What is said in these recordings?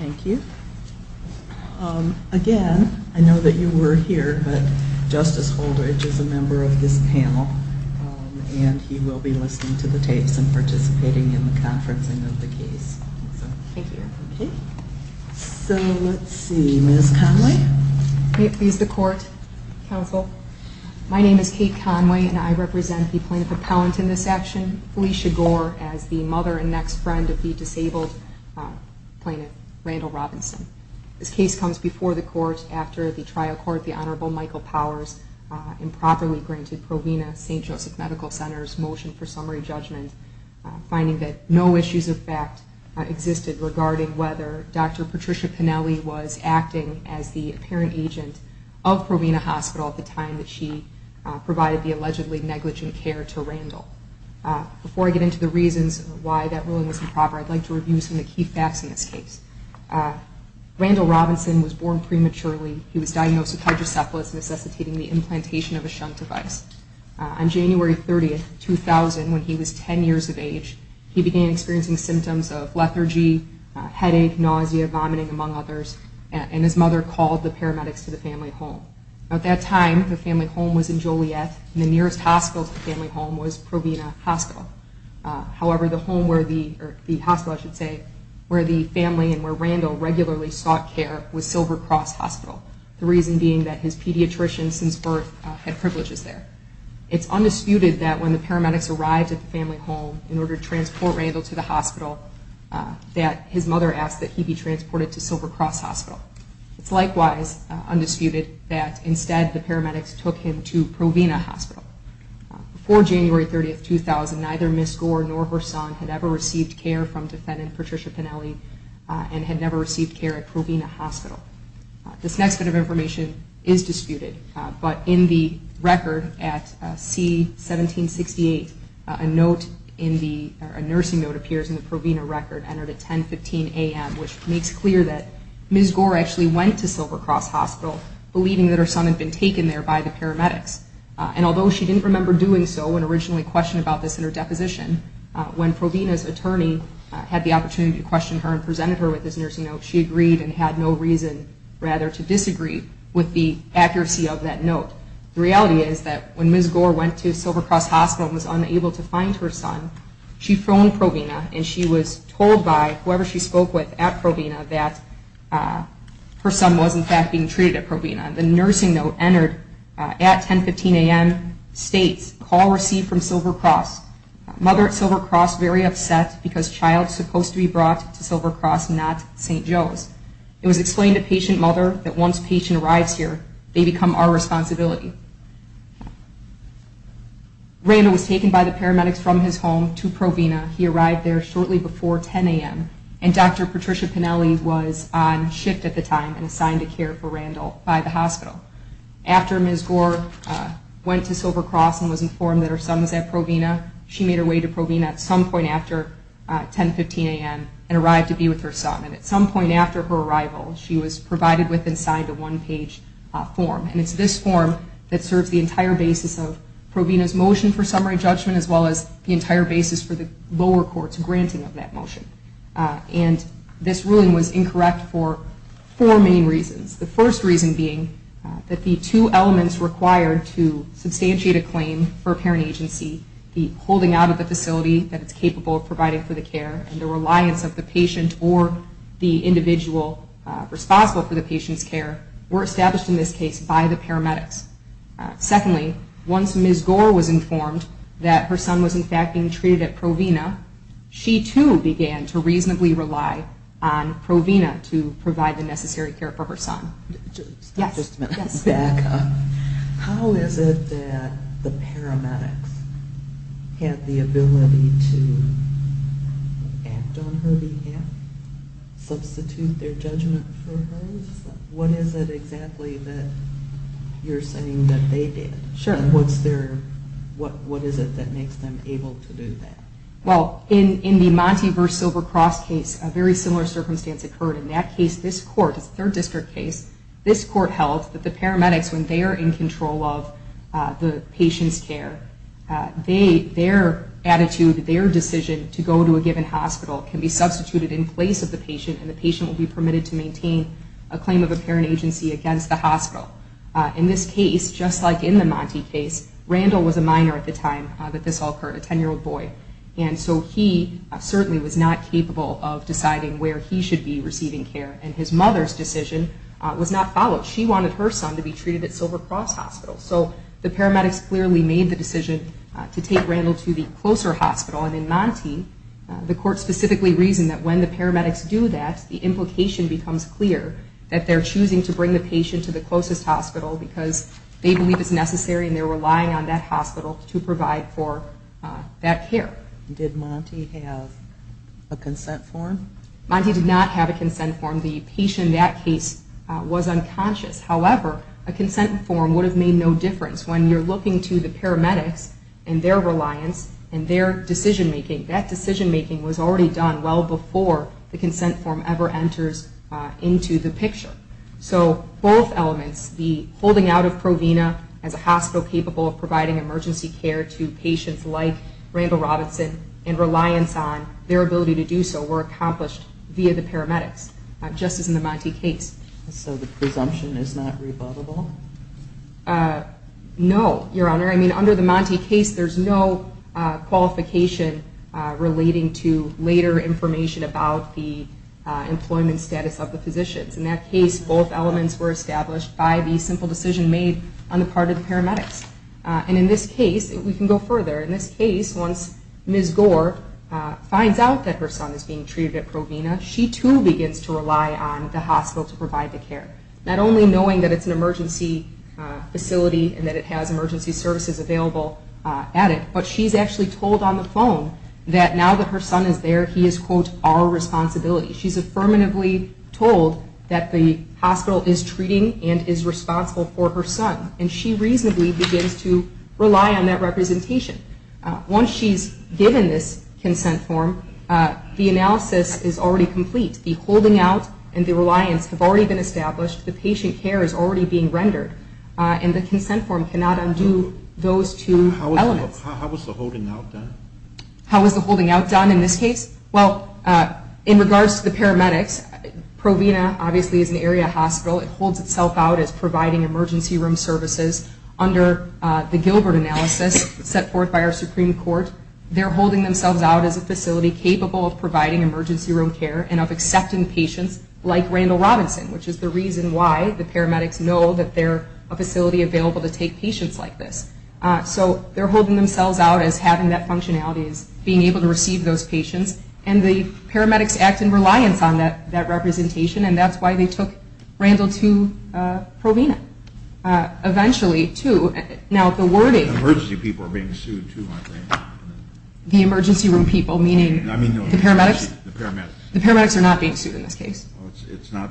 Thank you. Again, I know that you were here, but Justice Holdredge is a member of this panel, and he will be listening to the tapes and participating in the conferencing of the So let's see, Ms. Conway? May it please the Court, Counsel? My name is Kate Conway, and I represent the Plaintiff Appellant in this action, Felicia Gore, as the mother and next friend of the disabled plaintiff, Randall Robinson. This case comes before the court after the trial court, the Honorable Michael Powers, improperly granted Provena St. Joseph Medical Center's motion for summary that Dr. Patricia Pennelly was acting as the apparent agent of Provena Hospital at the time that she provided the allegedly negligent care to Randall. Before I get into the reasons why that ruling was improper, I'd like to review some of the key facts in this case. Randall Robinson was born prematurely. He was diagnosed with hydrocephalus necessitating the implantation of a shunt device. On January 30, 2000, when he was 10 years of age, he began experiencing symptoms of lethargy, headache, nausea, vomiting, among others, and his mother called the paramedics to the family home. At that time, the family home was in Joliet, and the nearest hospital to the family home was Provena Hospital. However, the home where the, or the hospital I should say, where the family and where Randall regularly sought care was Silver Cross Hospital, the reason being that his pediatrician since birth had privileges there. It's undisputed that when the paramedics arrived at the family home in order to transport Randall to the hospital, that his mother asked that he be transported to Silver Cross Hospital. It's likewise undisputed that instead the paramedics took him to Provena Hospital. Before January 30, 2000, neither Ms. Gore nor her son had ever received care from defendant Patricia Pennelly and had never received care at Provena Hospital. This next bit of information is disputed, but in the record at C1768, a note in the, a nursing note appears in the Provena record entered at 1015 a.m., which makes clear that Ms. Gore actually went to Silver Cross Hospital believing that her son had been taken there by the paramedics. And when Provena's attorney had the opportunity to question her and presented her with this nursing note, she agreed and had no reason rather to disagree with the accuracy of that note. The reality is that when Ms. Gore went to Silver Cross Hospital and was unable to find her son, she phoned Provena and she was told by whoever she spoke with at Provena that her son was in fact being treated at Provena. The nursing note entered at 1015 a.m. states, call received from Silver Cross. Mother at Silver Cross very upset because child supposed to be brought to Silver Cross, not St. Joe's. It was explained to patient mother that once patient arrives here, they become our responsibility. Randall was taken by the paramedics from his home to Provena. He arrived there shortly before 10 a.m. and Dr. Patricia Pennelly was on shift at the time and assigned to care for Randall by the hospital. After Ms. Gore went to Silver Cross and was informed that her son was at Provena, she made her way to Provena at some point after 1015 a.m. and arrived to be with her son. And at some point after her arrival, she was provided with and signed a one-page form. And it's this form that serves the entire basis of Provena's motion for summary judgment as well as the entire basis for the lower court's granting of that motion. And this ruling was that the two elements required to substantiate a claim for a parent agency, the holding out of the facility that it's capable of providing for the care and the reliance of the patient or the individual responsible for the patient's care, were established in this case by the paramedics. Secondly, once Ms. Gore was informed that her son was in fact being treated at Provena, she too began to reasonably rely on Provena to provide the judgment back up. How is it that the paramedics had the ability to act on her behalf, substitute their judgment for hers? What is it exactly that you're saying that they did? What is it that makes them able to do that? Well, in the Monty v. Silvercross case, a very similar circumstance occurred. In that case, this court, a third district case, this court held that the paramedics, when they are in control of the patient's care, their attitude, their decision to go to a given hospital can be substituted in place of the patient and the patient will be permitted to maintain a claim of a parent agency against the hospital. In this case, just like in the Monty case, Randall was a minor at the time that this all occurred, a 10-year-old boy, and so he certainly was not capable of deciding where he should be receiving care, and his mother's decision was not followed. She wanted her son to be treated at Silvercross Hospital, so the paramedics clearly made the decision to take Randall to the closer hospital, and in Monty, the court specifically reasoned that when the paramedics do that, the implication becomes clear that they're choosing to rely on that hospital to provide for that care. Did Monty have a consent form? Monty did not have a consent form. The patient in that case was unconscious. However, a consent form would have made no difference. When you're looking to the paramedics and their reliance and their decision-making, that decision-making was already done well before the consent form ever enters into the hospital. So the presumption is not rebuttable? No, Your Honor. I mean, under the Monty case, there's no qualification relating to later information about the employment status of the physicians. In that case, both And in this case, we can go further. In this case, once Ms. Gore finds out that her son is being treated at Provena, she too begins to rely on the hospital to provide the care, not only knowing that it's an emergency facility and that it has emergency services available at it, but she's actually told on the phone that now that her son is there, he is, quote, our responsibility. She's affirmatively told that the hospital is treating and is responsible for her son, and she reasonably begins to rely on that representation. Once she's given this consent form, the analysis is already complete. The holding out and the reliance have already been established. The patient care is already being rendered, and the consent form cannot undo those two elements. How was the holding out done? How was the holding out done in this case? Well, in regards to the paramedics, Provena obviously is an area hospital. It holds itself out as providing emergency room services under the Gilbert analysis set forth by our Supreme Court. They're holding themselves out as a facility capable of providing emergency room care and of accepting patients like Randall Robinson, which is the reason why the paramedics know that they're a facility available to take patients like this. So they're holding themselves out as having that functionality as being able to receive those patients, and the paramedics act in reliance on that representation, and that's why they took Randall to Provena eventually, too. Now, the wording... The emergency people are being sued, too, aren't they? The emergency room people, meaning the paramedics? The paramedics. The paramedics are not being sued in this case. It's not,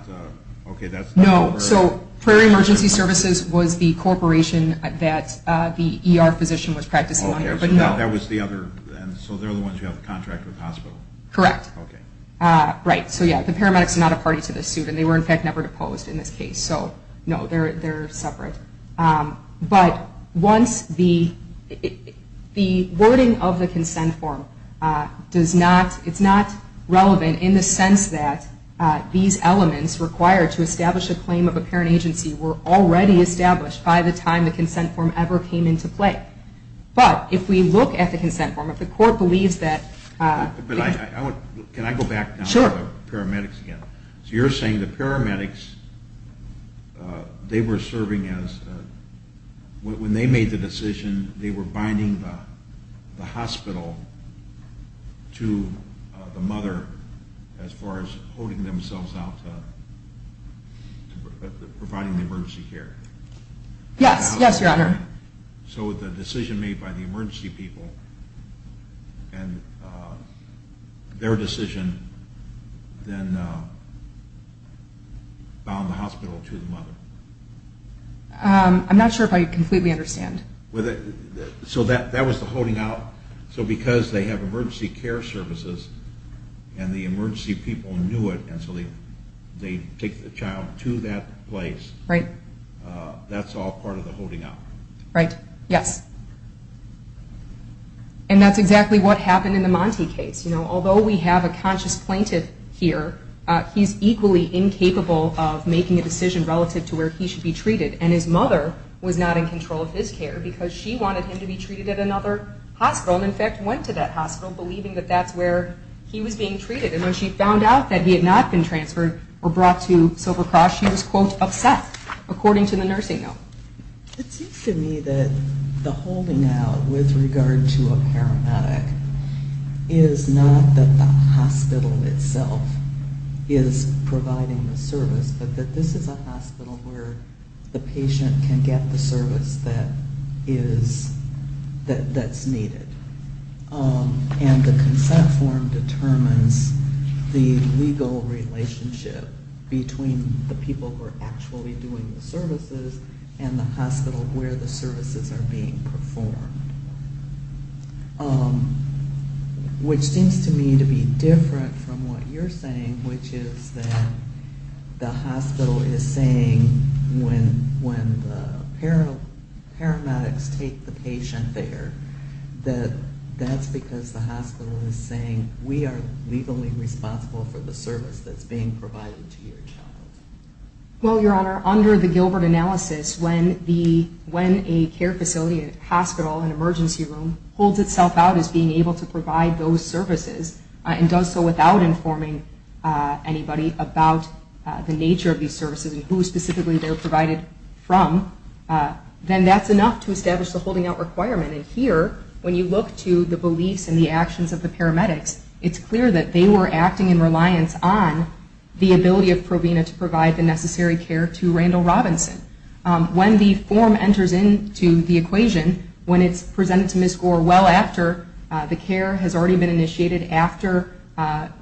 okay, that's... No, so Prairie Emergency Services was the corporation that the ER physician was practicing under, but no. So that was the other, so they're the ones who have the contract with the hospital? Correct. Okay. Right, so yeah, the paramedics are not a party to this suit, and they were in fact never deposed in this case, so no, they're separate. But once the wording of the consent form does not, it's not relevant in the sense that these elements required to establish a claim of a parent agency were already established by the time the consent form ever came into play. But if we look at the consent form, if the court believes that... But I want... Can I go back now to the paramedics again? Sure. So you're saying the paramedics, they were serving as... When they made the decision, they were binding the hospital to the mother as far as holding themselves out to providing the emergency care? Yes, yes, Your Honor. So the decision made by the emergency people, and their decision then bound the hospital to the mother? I'm not sure if I completely understand. So that was the holding out? So because they have emergency care services, and the emergency people knew it, and so they take the child to that place? Right. That's all part of the holding out. Right. Yes. And that's exactly what happened in the Monte case. Although we have a conscious plaintiff here, he's equally incapable of making a decision relative to where he should be treated. And his mother was not in control of his care, because she wanted him to be treated at another hospital, and in fact went to that hospital, believing that that's where he was being treated. And when she found out that he had not been transferred or brought to Silver Cross, she was, quote, upset, according to the nursing note. It seems to me that the holding out with regard to a paramedic is not that the hospital itself is providing the service, but that this is a hospital where the patient can get the service that's needed. And the consent form determines the legal relationship between the people who are actually doing the services and the hospital where the services are being performed. Which seems to me to be different from what you're saying, which is that the hospital is saying, when the paramedics take the patient there, that that's because the hospital is saying, we are legally responsible for the service that's being provided to your child. Well, Your Honor, under the Gilbert analysis, when a care facility, a hospital, an emergency room, holds itself out as being able to provide those services, and does so without informing anybody about the nature of these services and who specifically they're provided from, then that's enough to establish the holding out requirement. And here, when you look to the beliefs and the actions of the paramedics, it's clear that they were acting in reliance on the ability of Provena to provide the necessary care to Randall Robinson. When the form enters into the equation, when it's presented to Ms. Gore well after the care has already been initiated, after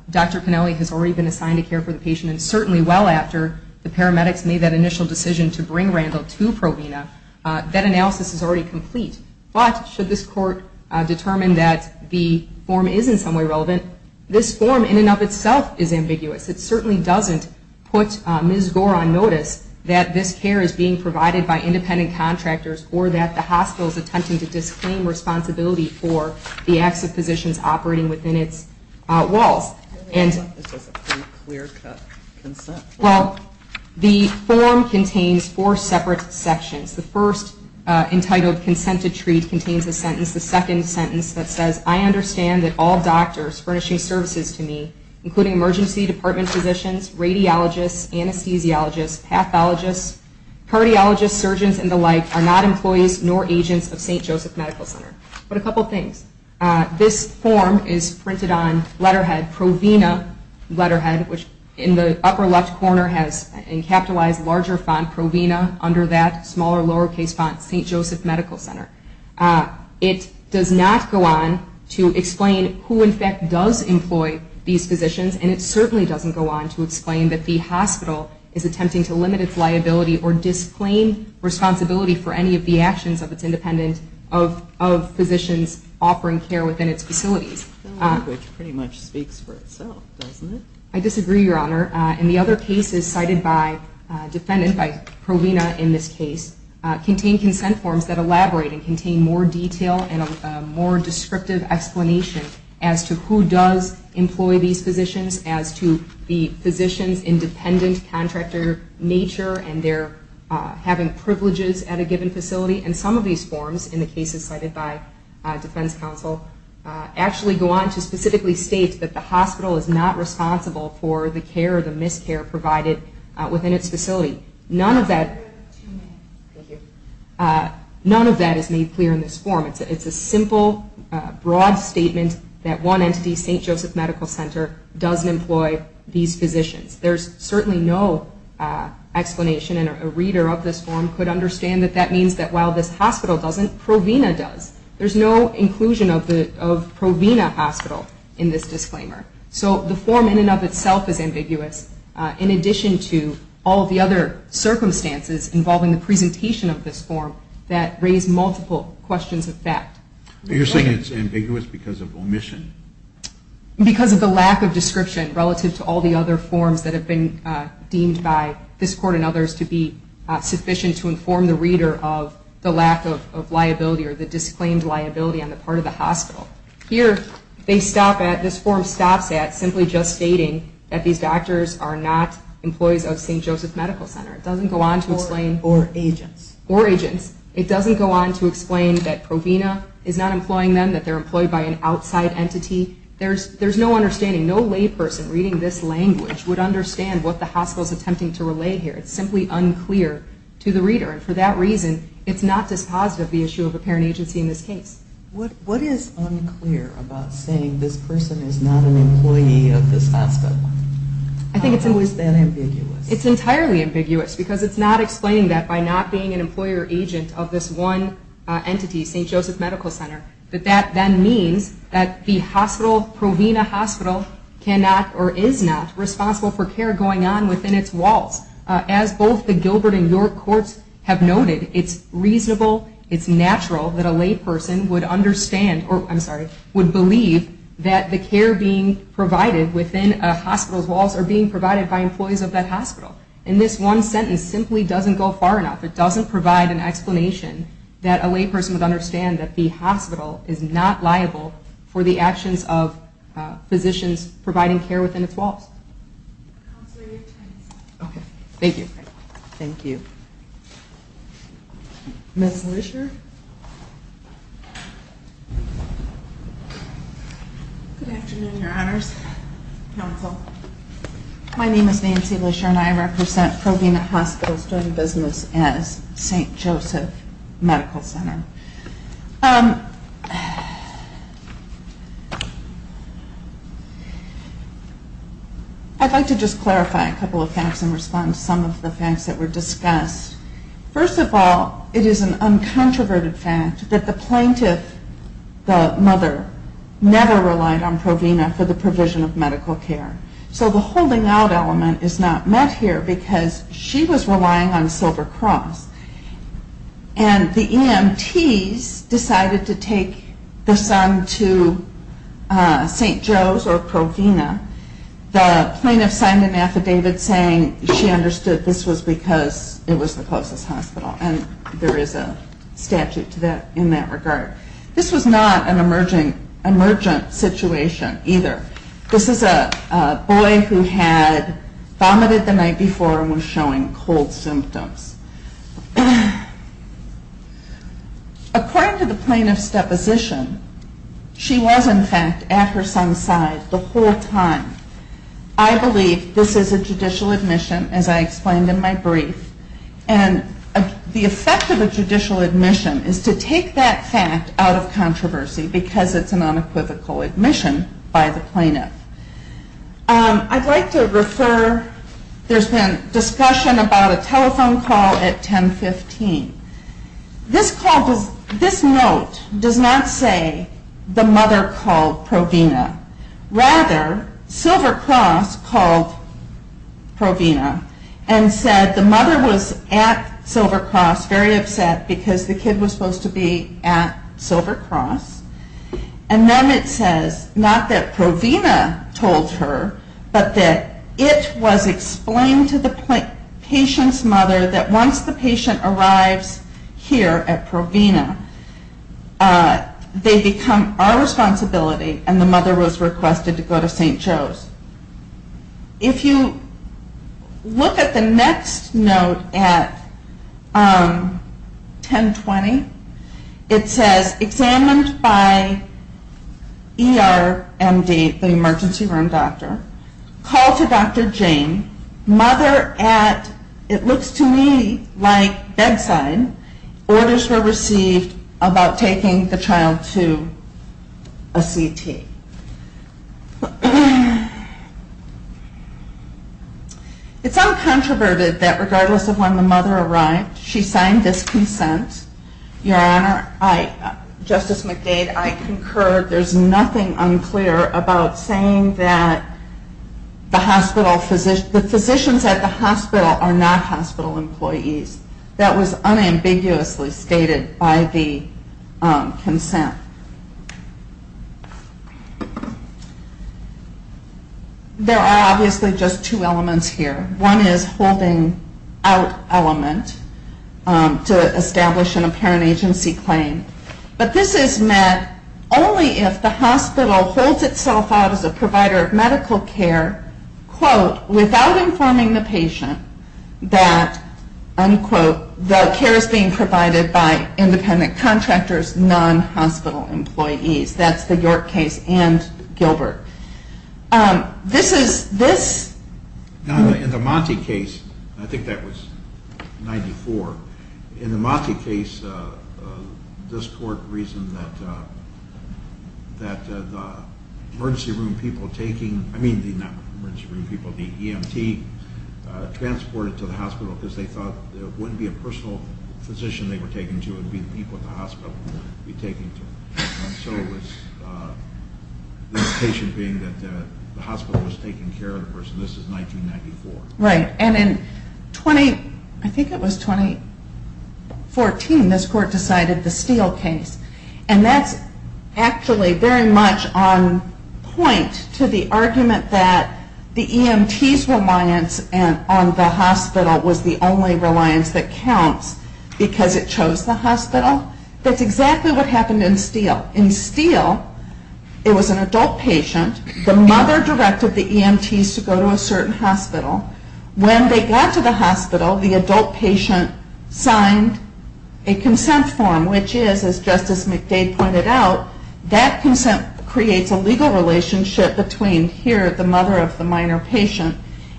Dr. Pennelly has already been assigned a care for the patient, and certainly well after the paramedics made that initial decision to bring Randall to Provena, that analysis is already complete. But should this court determine that the form is in some way relevant, this form in and of itself is ambiguous. It certainly doesn't put Ms. Gore on notice that this care is being provided by independent contractors or that the hospital is attempting to disclaim responsibility for the acts of physicians operating within its walls. Well, the form contains four separate sections. The first, entitled Consented Treat, contains a sentence, the second sentence, that says, I understand that all doctors furnishing services to me, including emergency department physicians, radiologists, anesthesiologists, pathologists, cardiologists, surgeons and the like, are not employees nor agents of St. Joseph Medical Center. But a couple things. This form is printed on letterhead, Provena letterhead, which in the upper left corner has in capitalized larger font, Provena, under that smaller lower case font, St. Joseph Medical Center. It does not go on to explain who in fact does employ these physicians and it certainly doesn't go on to explain that the hospital is attempting to limit its liability or disclaim responsibility for any of the actions of its independent, of physicians offering care within its facilities. Which pretty much speaks for itself, doesn't it? I disagree, Your Honor. And the other cases cited by Provena in this case contain consent forms that elaborate and contain more detail and a more descriptive explanation as to who does employ these physicians, as to the physician's independent contractor nature and their having privileges at a given facility. And some of these forms in the cases cited by defense counsel actually go on to specifically state that the hospital is not responsible for the care or the miscare provided within its facility. None of that is made clear in this form. It's a simple, broad statement that one entity, St. Joseph Medical Center, does employ these physicians. There's certainly no explanation and a reader of this form could understand that that means that while this hospital doesn't, Provena does. There's no inclusion of Provena Hospital in this disclaimer. So the form in and of itself is ambiguous. In addition to all the other circumstances involving the presentation of this form that raise multiple questions of fact. You're saying it's ambiguous because of omission? Because of the lack of description relative to all the other forms that have been deemed by this Court and others to be sufficient to inform the reader of the lack of liability or the disclaimed liability on the part of the hospital. Here, this form stops at simply just stating that these doctors are not employees of St. Joseph Medical Center. Or agents. It doesn't go on to explain that Provena is not employing them, that they're employed by an outside entity. There's no understanding. No layperson reading this language would understand what the hospital is attempting to relay here. It's simply unclear to the reader and for that reason it's not dispositive of the issue of apparent agency in this case. What is unclear about saying this person is not an employee of this hospital? How is that ambiguous? It's entirely ambiguous because it's not explaining that by not being an employer or agent of this one entity, St. Joseph Medical Center, that that then means that the hospital, Provena Hospital, cannot or is not responsible for care going on within its walls. As both the Gilbert and York Courts have noted, it's reasonable, it's natural that a layperson would understand, or I'm sorry, would believe that the care being provided within a hospital's walls are being provided by employees of that hospital. And this one sentence simply doesn't go far enough. It doesn't provide an explanation that a layperson would understand that the hospital is not liable for the actions of physicians providing care within its walls. Okay. Thank you. Thank you. Ms. Lesher? Good afternoon, your honors, counsel. My name is Nancy Lesher and I represent Provena Hospital's joint business as St. Joseph Medical Center. I'd like to just clarify a couple of facts and respond to some of the facts that were discussed. First of all, it is an uncontroverted fact that the plaintiff, the mother, never relied on Provena for the provision of medical care. So the holding out element is not met here because she was relying on Silver Cross and the EMTs decided to take the son to St. Joe's or Provena. The plaintiff signed an affidavit saying she understood this was because it was the closest hospital and there is a statute in that regard. This was not an emergent situation either. This is a boy who had vomited the night before and was showing cold symptoms. According to the plaintiff's deposition, she was in fact at her son's side the whole time. I believe this is a judicial admission as I explained in my brief and the effect of a judicial admission is to take that fact out of controversy because it's an unequivocal admission by the plaintiff. I'd like to refer, there's been discussion about a telephone call at 1015. This call, this note does not say the mother called Provena. Rather, Silver Cross called Provena and said the mother was at Silver Cross very upset because the kid was supposed to be at Silver Cross and then it says, not that Provena told her, but that it was explained to the patient's mother that once the patient arrives here at Provena, they become our responsibility and the mother was requested to go to St. Joe's. If you look at the next note at 1020, it says examined by ER MD, the emergency room doctor, call to Dr. Jane, mother at, it looks to me like bedside, orders were received about taking the child to a CT. It's uncontroverted that regardless of when the mother arrived, she signed this consent. Your Honor, I, Justice McDade, I concur, there's nothing unclear about saying that the hospital, the physicians at the hospital are not hospital employees. That was unambiguously stated by the consent. There are obviously just two elements here. One is holding out element to establish an apparent agency claim, but this is meant only if the hospital holds itself out as a provider of medical care, quote without informing the patient that, unquote, the care is being provided by independent contractors, non-hospital employees. That's the York case and Gilbert. This is, this, in the Monti case, I think that was 94, in the Monti case, this court reasoned that the emergency room people taking, I mean not the emergency room people, the EMT, transported to the personal physician they were taking to, it would be the people at the hospital who would be taking to them. So it was, the indication being that the hospital was taking care of the person. This is 1994. Right, and in 20, I think it was 2014, this court decided the Steele case, and that's actually very much on point to the argument that the EMT's reliance on the hospital was the only reliance that counts because it chose the hospital. That's exactly what happened in Steele. In Steele, it was an adult patient. The mother directed the EMT's to go to a certain hospital. When they got to the hospital, the adult patient signed a consent form, which is, as Justice McDade pointed out, that consent creates a legal relationship between here, the mother of the minor patient,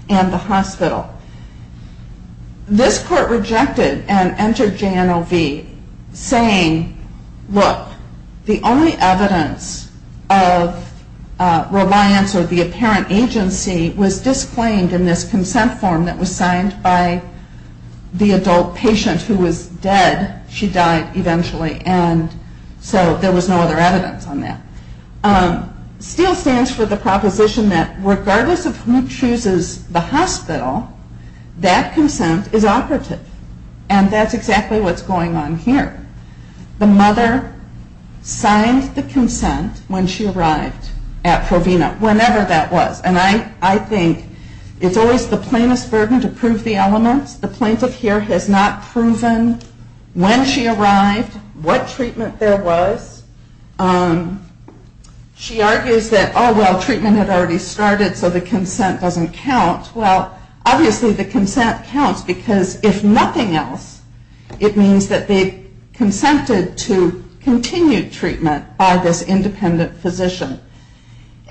and the hospital. This court rejected and entered JNOV saying, look, the only evidence of reliance or the apparent agency was disclaimed in this consent form that was signed by the adult patient who was dead. She died eventually, and so there was no other evidence on that. Steele stands for the proposition that regardless of who chooses the hospital, that consent is operative, and that's exactly what's going on here. The mother signed the consent when she arrived at Provena, whenever that was, and I think it's always the plainest burden to prove the elements. The plaintiff here has not proven when she arrived, what treatment there was. She argues that, oh, well, the treatment had already started, so the consent doesn't count. Well, obviously the consent counts, because if nothing else, it means that they consented to continued treatment by this independent physician.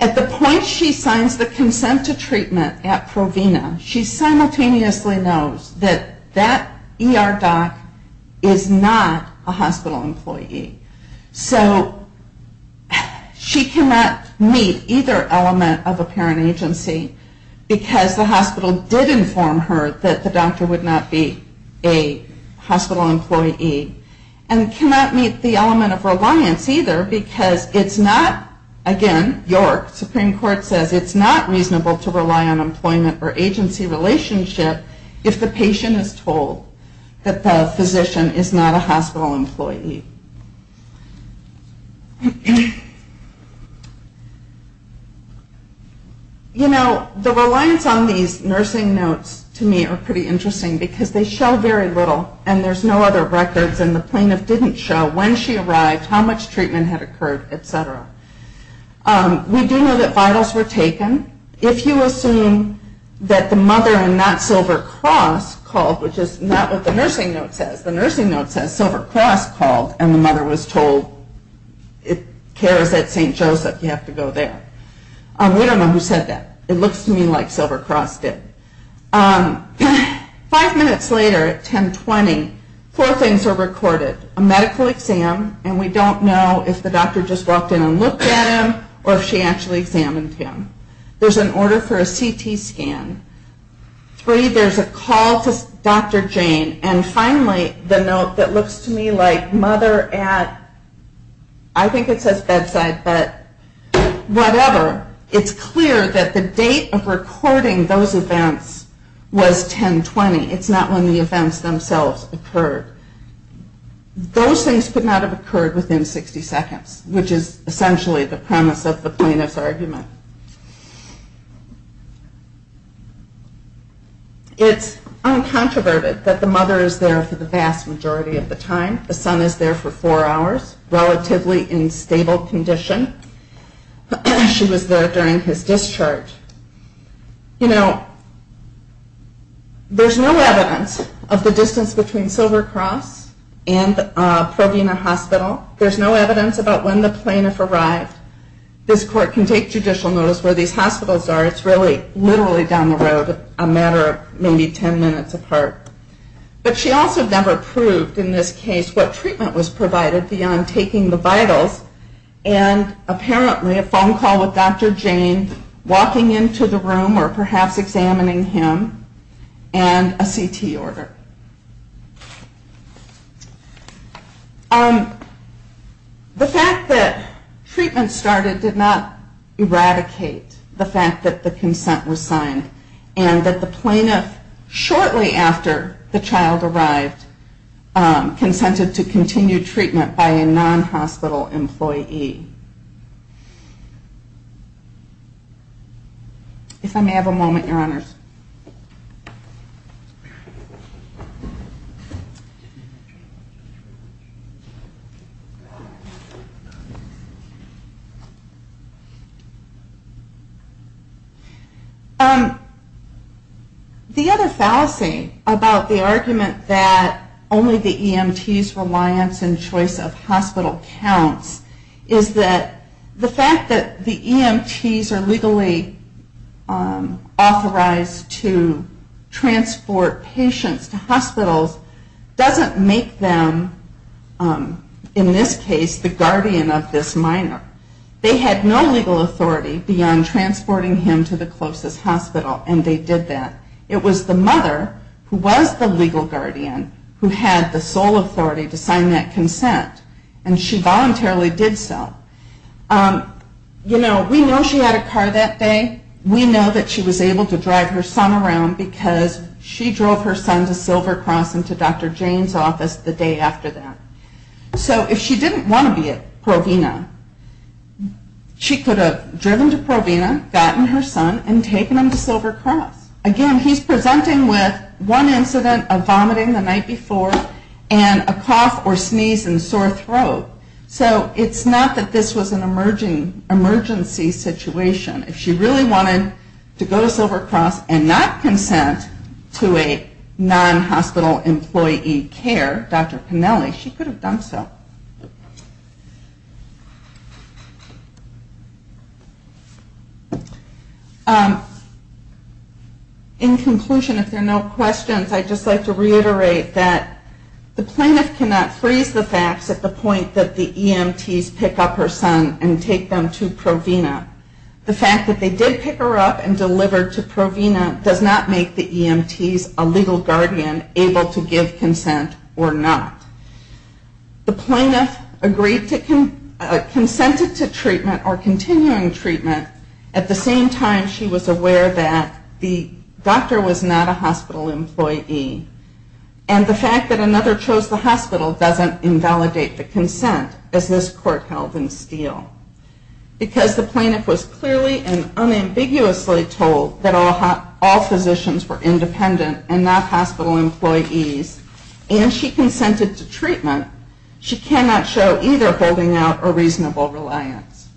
At the point she signs the consent to treatment at Provena, she simultaneously knows that that ER doc is not a hospital employee. So she cannot meet either element of a parent agency because the hospital did inform her that the doctor would not be a hospital employee, and cannot meet the element of reliance either, because it's not again, York Supreme Court says, it's not reasonable to rely on employment or agency relationship if the patient is told that the physician is not a hospital employee. You know, the reliance on these nursing notes to me are pretty interesting, because they show very little, and there's no other records, and the plaintiff didn't show when she arrived, how much treatment had occurred, etc. We do know that vitals were taken. If you assume that the mother in that silver cross called, which is not what the nursing note says, the nursing note says silver cross called, and the mother was told, if care is at St. Joseph you have to go there. We don't know who said that. It looks to me like silver cross did. Five minutes later at 1020, four things are recorded. A medical exam, and we don't know if the doctor just walked in and looked at him, or if she actually examined him. There's an order for a CT scan. Three, there's a call to Dr. Jane, and finally the note that looks to me like mother at I think it says bedside, but whatever. It's clear that the date of recording those events was 1020. It's not when the events themselves occurred. Those things could not have occurred within 60 seconds, which is essentially the premise of the plaintiff's argument. It's uncontroverted that the mother is there for the vast majority of the time. The son is there for four hours, relatively in stable condition. She was there during his discharge. There's no evidence of the distance between Silver Cross and Provena Hospital. There's no evidence about when the plaintiff arrived. This court can take judicial notice where these hospitals are. It's really literally down the road, a matter of maybe 10 minutes apart. But she also never proved in this case what treatment was provided beyond taking the vitals and apparently a phone call with Dr. Jane, walking into the room or perhaps examining him, and a CT order. The fact that treatment started did not eradicate the fact that the consent was provided. The plaintiff shortly after the child arrived consented to continued treatment by a non-hospital employee. If I may have a moment, Your Honors. The other fallacy about the argument that only the EMT's reliance and choice of hospital counts is that the fact that the EMT's are legally authorized to transport patients to hospitals doesn't make them in this case the guardian of this minor. They had no legal authority beyond transporting him to the closest hospital and they did that. It was the mother who was the legal guardian who had the sole authority to sign that consent and she voluntarily did so. We know she had a car that day. We know that she was able to drive her son around because she drove her son to Silver Cross and to Dr. Jane's office the day after that. So if she didn't want to be at Provena, she could have driven to Provena, gotten her son and taken him to Silver Cross. Again, he's presenting with one incident of vomiting the night before and a cough or sneeze and sore throat. So it's not that this was an emergency situation. If she really wanted to go to Silver Cross and not consent to a non-hospital employee care, Dr. Pinelli, she could have done so. In conclusion, if there are no questions, I'd just like to reiterate that the plaintiff cannot freeze the facts at the point that the EMTs pick up her son and take them to Provena. The fact that they did pick her up and deliver to Provena does not make the EMTs a legal guardian able to give consent or not. The plaintiff consented to treatment or the same time she was aware that the doctor was not a hospital employee and the fact that another chose the hospital doesn't invalidate the consent as this court held in Steele. Because the plaintiff was clearly and unambiguously told that all physicians were independent and not hospital employees and she consented to treatment, she cannot show either holding out or reasonable reliance.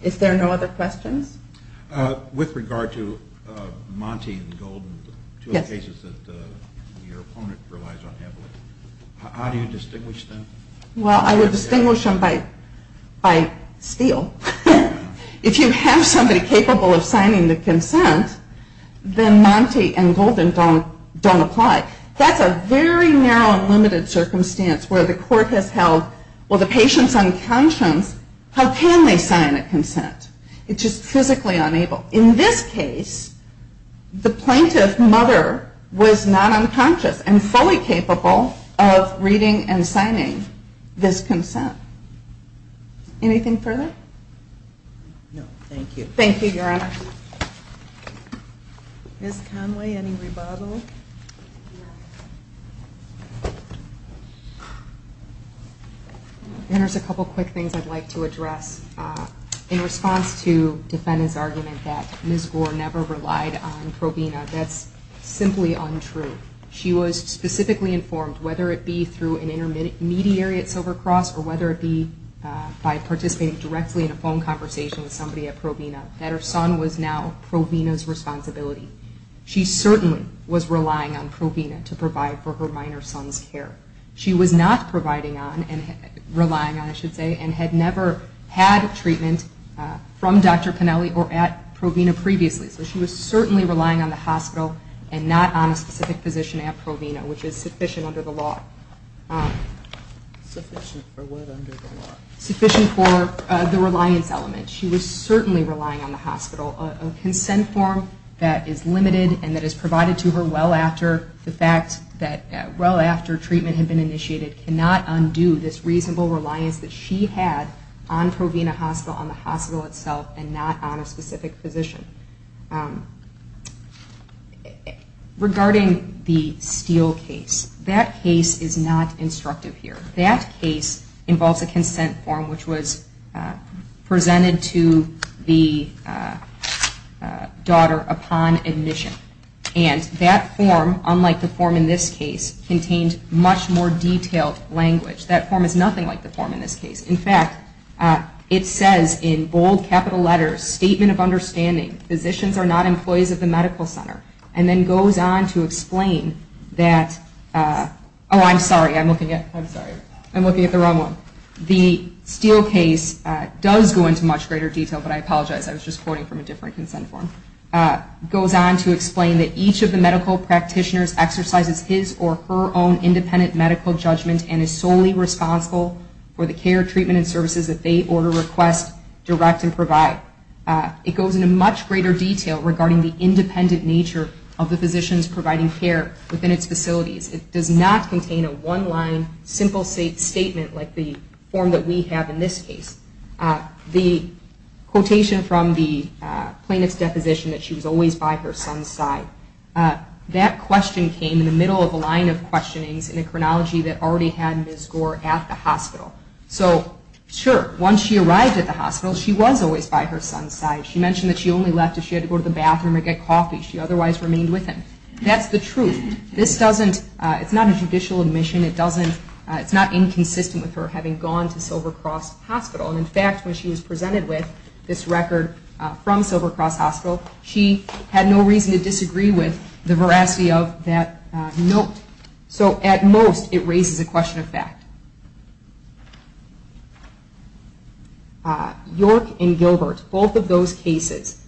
Is there no other questions? With regard to Monty and Golden, two cases that your opponent relies on heavily, how do you distinguish them? Well, I would distinguish them by Steele. If you have somebody capable of signing the consent, then Monty and Golden don't apply. That's a very narrow and limited circumstance where the court has held, well the patient's unconscious, how can they sign a consent? It's just physically unable. In this case, the plaintiff's mother was not unconscious and fully capable of reading and signing this consent. Anything further? No, thank you. Thank you, Your Honor. Ms. Conway, any rebuttal? There's a couple quick things I'd like to address. In response to Defenda's argument that Ms. Gore never relied on Provena, that's simply untrue. She was specifically informed, whether it be through an intermediary at Silver Cross or whether it be by participating directly in a phone conversation with somebody at Provena, that her son was now Provena's responsibility. She certainly was relying on Provena to provide for her minor son's care. She was not providing on, relying on I should say, and had never had treatment from Dr. Pennelly or at Provena previously. So she was certainly relying on the hospital and not on a specific physician at Provena, which is sufficient under the law. Sufficient for what under the law? Sufficient for the reliance element. She was certainly relying on the hospital. A consent form that is limited and that is provided to her well after the fact that well after treatment had been initiated cannot undo this reasonable reliance that she had on Provena Hospital, on the hospital itself and not on a specific physician. Regarding the Steele case, that case is not instructive here. That case involves a consent form which was presented to the daughter upon admission. And that form, unlike the form in this case, contained much more detailed language. That form is nothing like the form in this case. In fact, it says in bold capital letters, statement of understanding, physicians are not employees of the medical center. And then goes on to explain that, oh I'm sorry, I'm looking at, I'm sorry, I'm looking at the wrong one. The Steele case does go into much greater detail, but I apologize. I was just quoting from a different consent form. Goes on to explain that each of the medical practitioners exercises his or her own independent medical judgment and is solely responsible for the care, treatment and services that they order, request, direct and provide. It goes into much greater detail regarding the independent nature of the physicians providing care within its facilities. It does not contain a one line simple statement like the form that we have in this case. The quotation from the plaintiff's deposition that she was always by her son's side. That question came in the middle of a line of questionings in a chronology that already had Ms. Gore at the hospital. So sure, once she arrived at the hospital, she was always by her son's side. She mentioned that she only left if she had to go to the bathroom or get coffee. She otherwise remained with him. That's the truth. This doesn't, it's not a judicial admission. It's not inconsistent with her having gone to Silver Cross Hospital. In fact, when she was presented with this record from Silver Cross Hospital, she had no reason to disagree with the veracity of that note. So at most, it raises a question of fact. York and Gilbert, both of those cases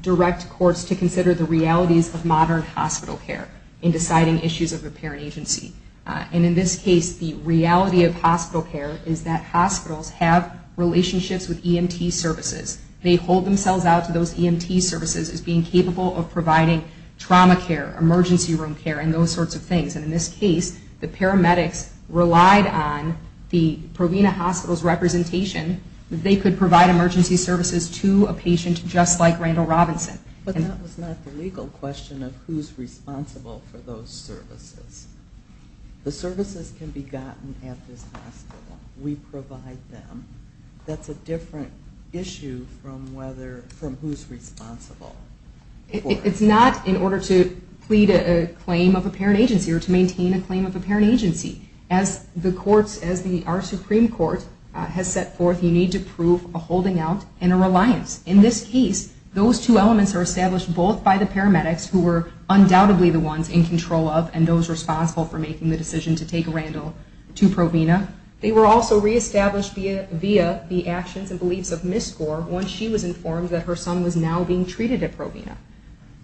direct courts to consider the realities of modern hospital care in deciding issues of apparent agency. And in this case, the reality of hospital care is that hospitals have relationships with EMT services. They hold themselves out to those EMT services as being capable of providing trauma care, emergency room care, and those sorts of things. And in this case, the paramedics relied on the Provena Hospital's representation that they could provide emergency services to a patient just like Randall Robinson. But that was not the legal question of who's responsible for those services. The services can be gotten at this hospital. We provide them. That's a different issue from whether, from who's responsible. It's not in order to plead a claim of apparent agency or to maintain a claim of apparent agency. As the courts, as our Supreme Court has set forth, you need to prove a holding out and a reliance. In this case, those two elements are established both by the paramedics who were undoubtedly the ones in control of and those responsible for making the decision to take Randall to Provena. They were also reestablished via the actions and beliefs of Ms. Gore once she was informed that her son was now being treated at Provena.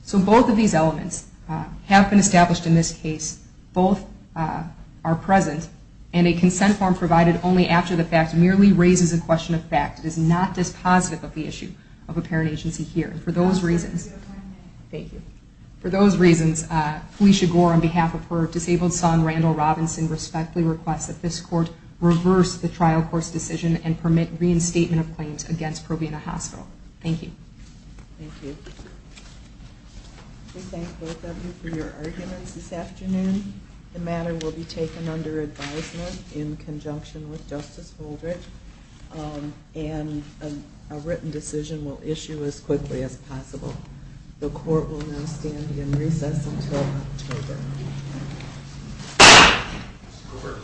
So both of these elements have been established in this case. Both are present and a consent form provided only after the fact merely raises a question of fact. It is not dispositive of the issue of apparent agency here. And for those reasons For those reasons, Felicia Gore, on behalf of her disabled son, Randall Robinson, respectfully requests that this court reverse the trial court's decision and permit reinstatement of claims against Provena Hospital. Thank you. We thank both of you for your arguments this afternoon. The matter will be taken under advisement in conjunction with Justice Holdridge and a written decision will The court will now stand in recess until October.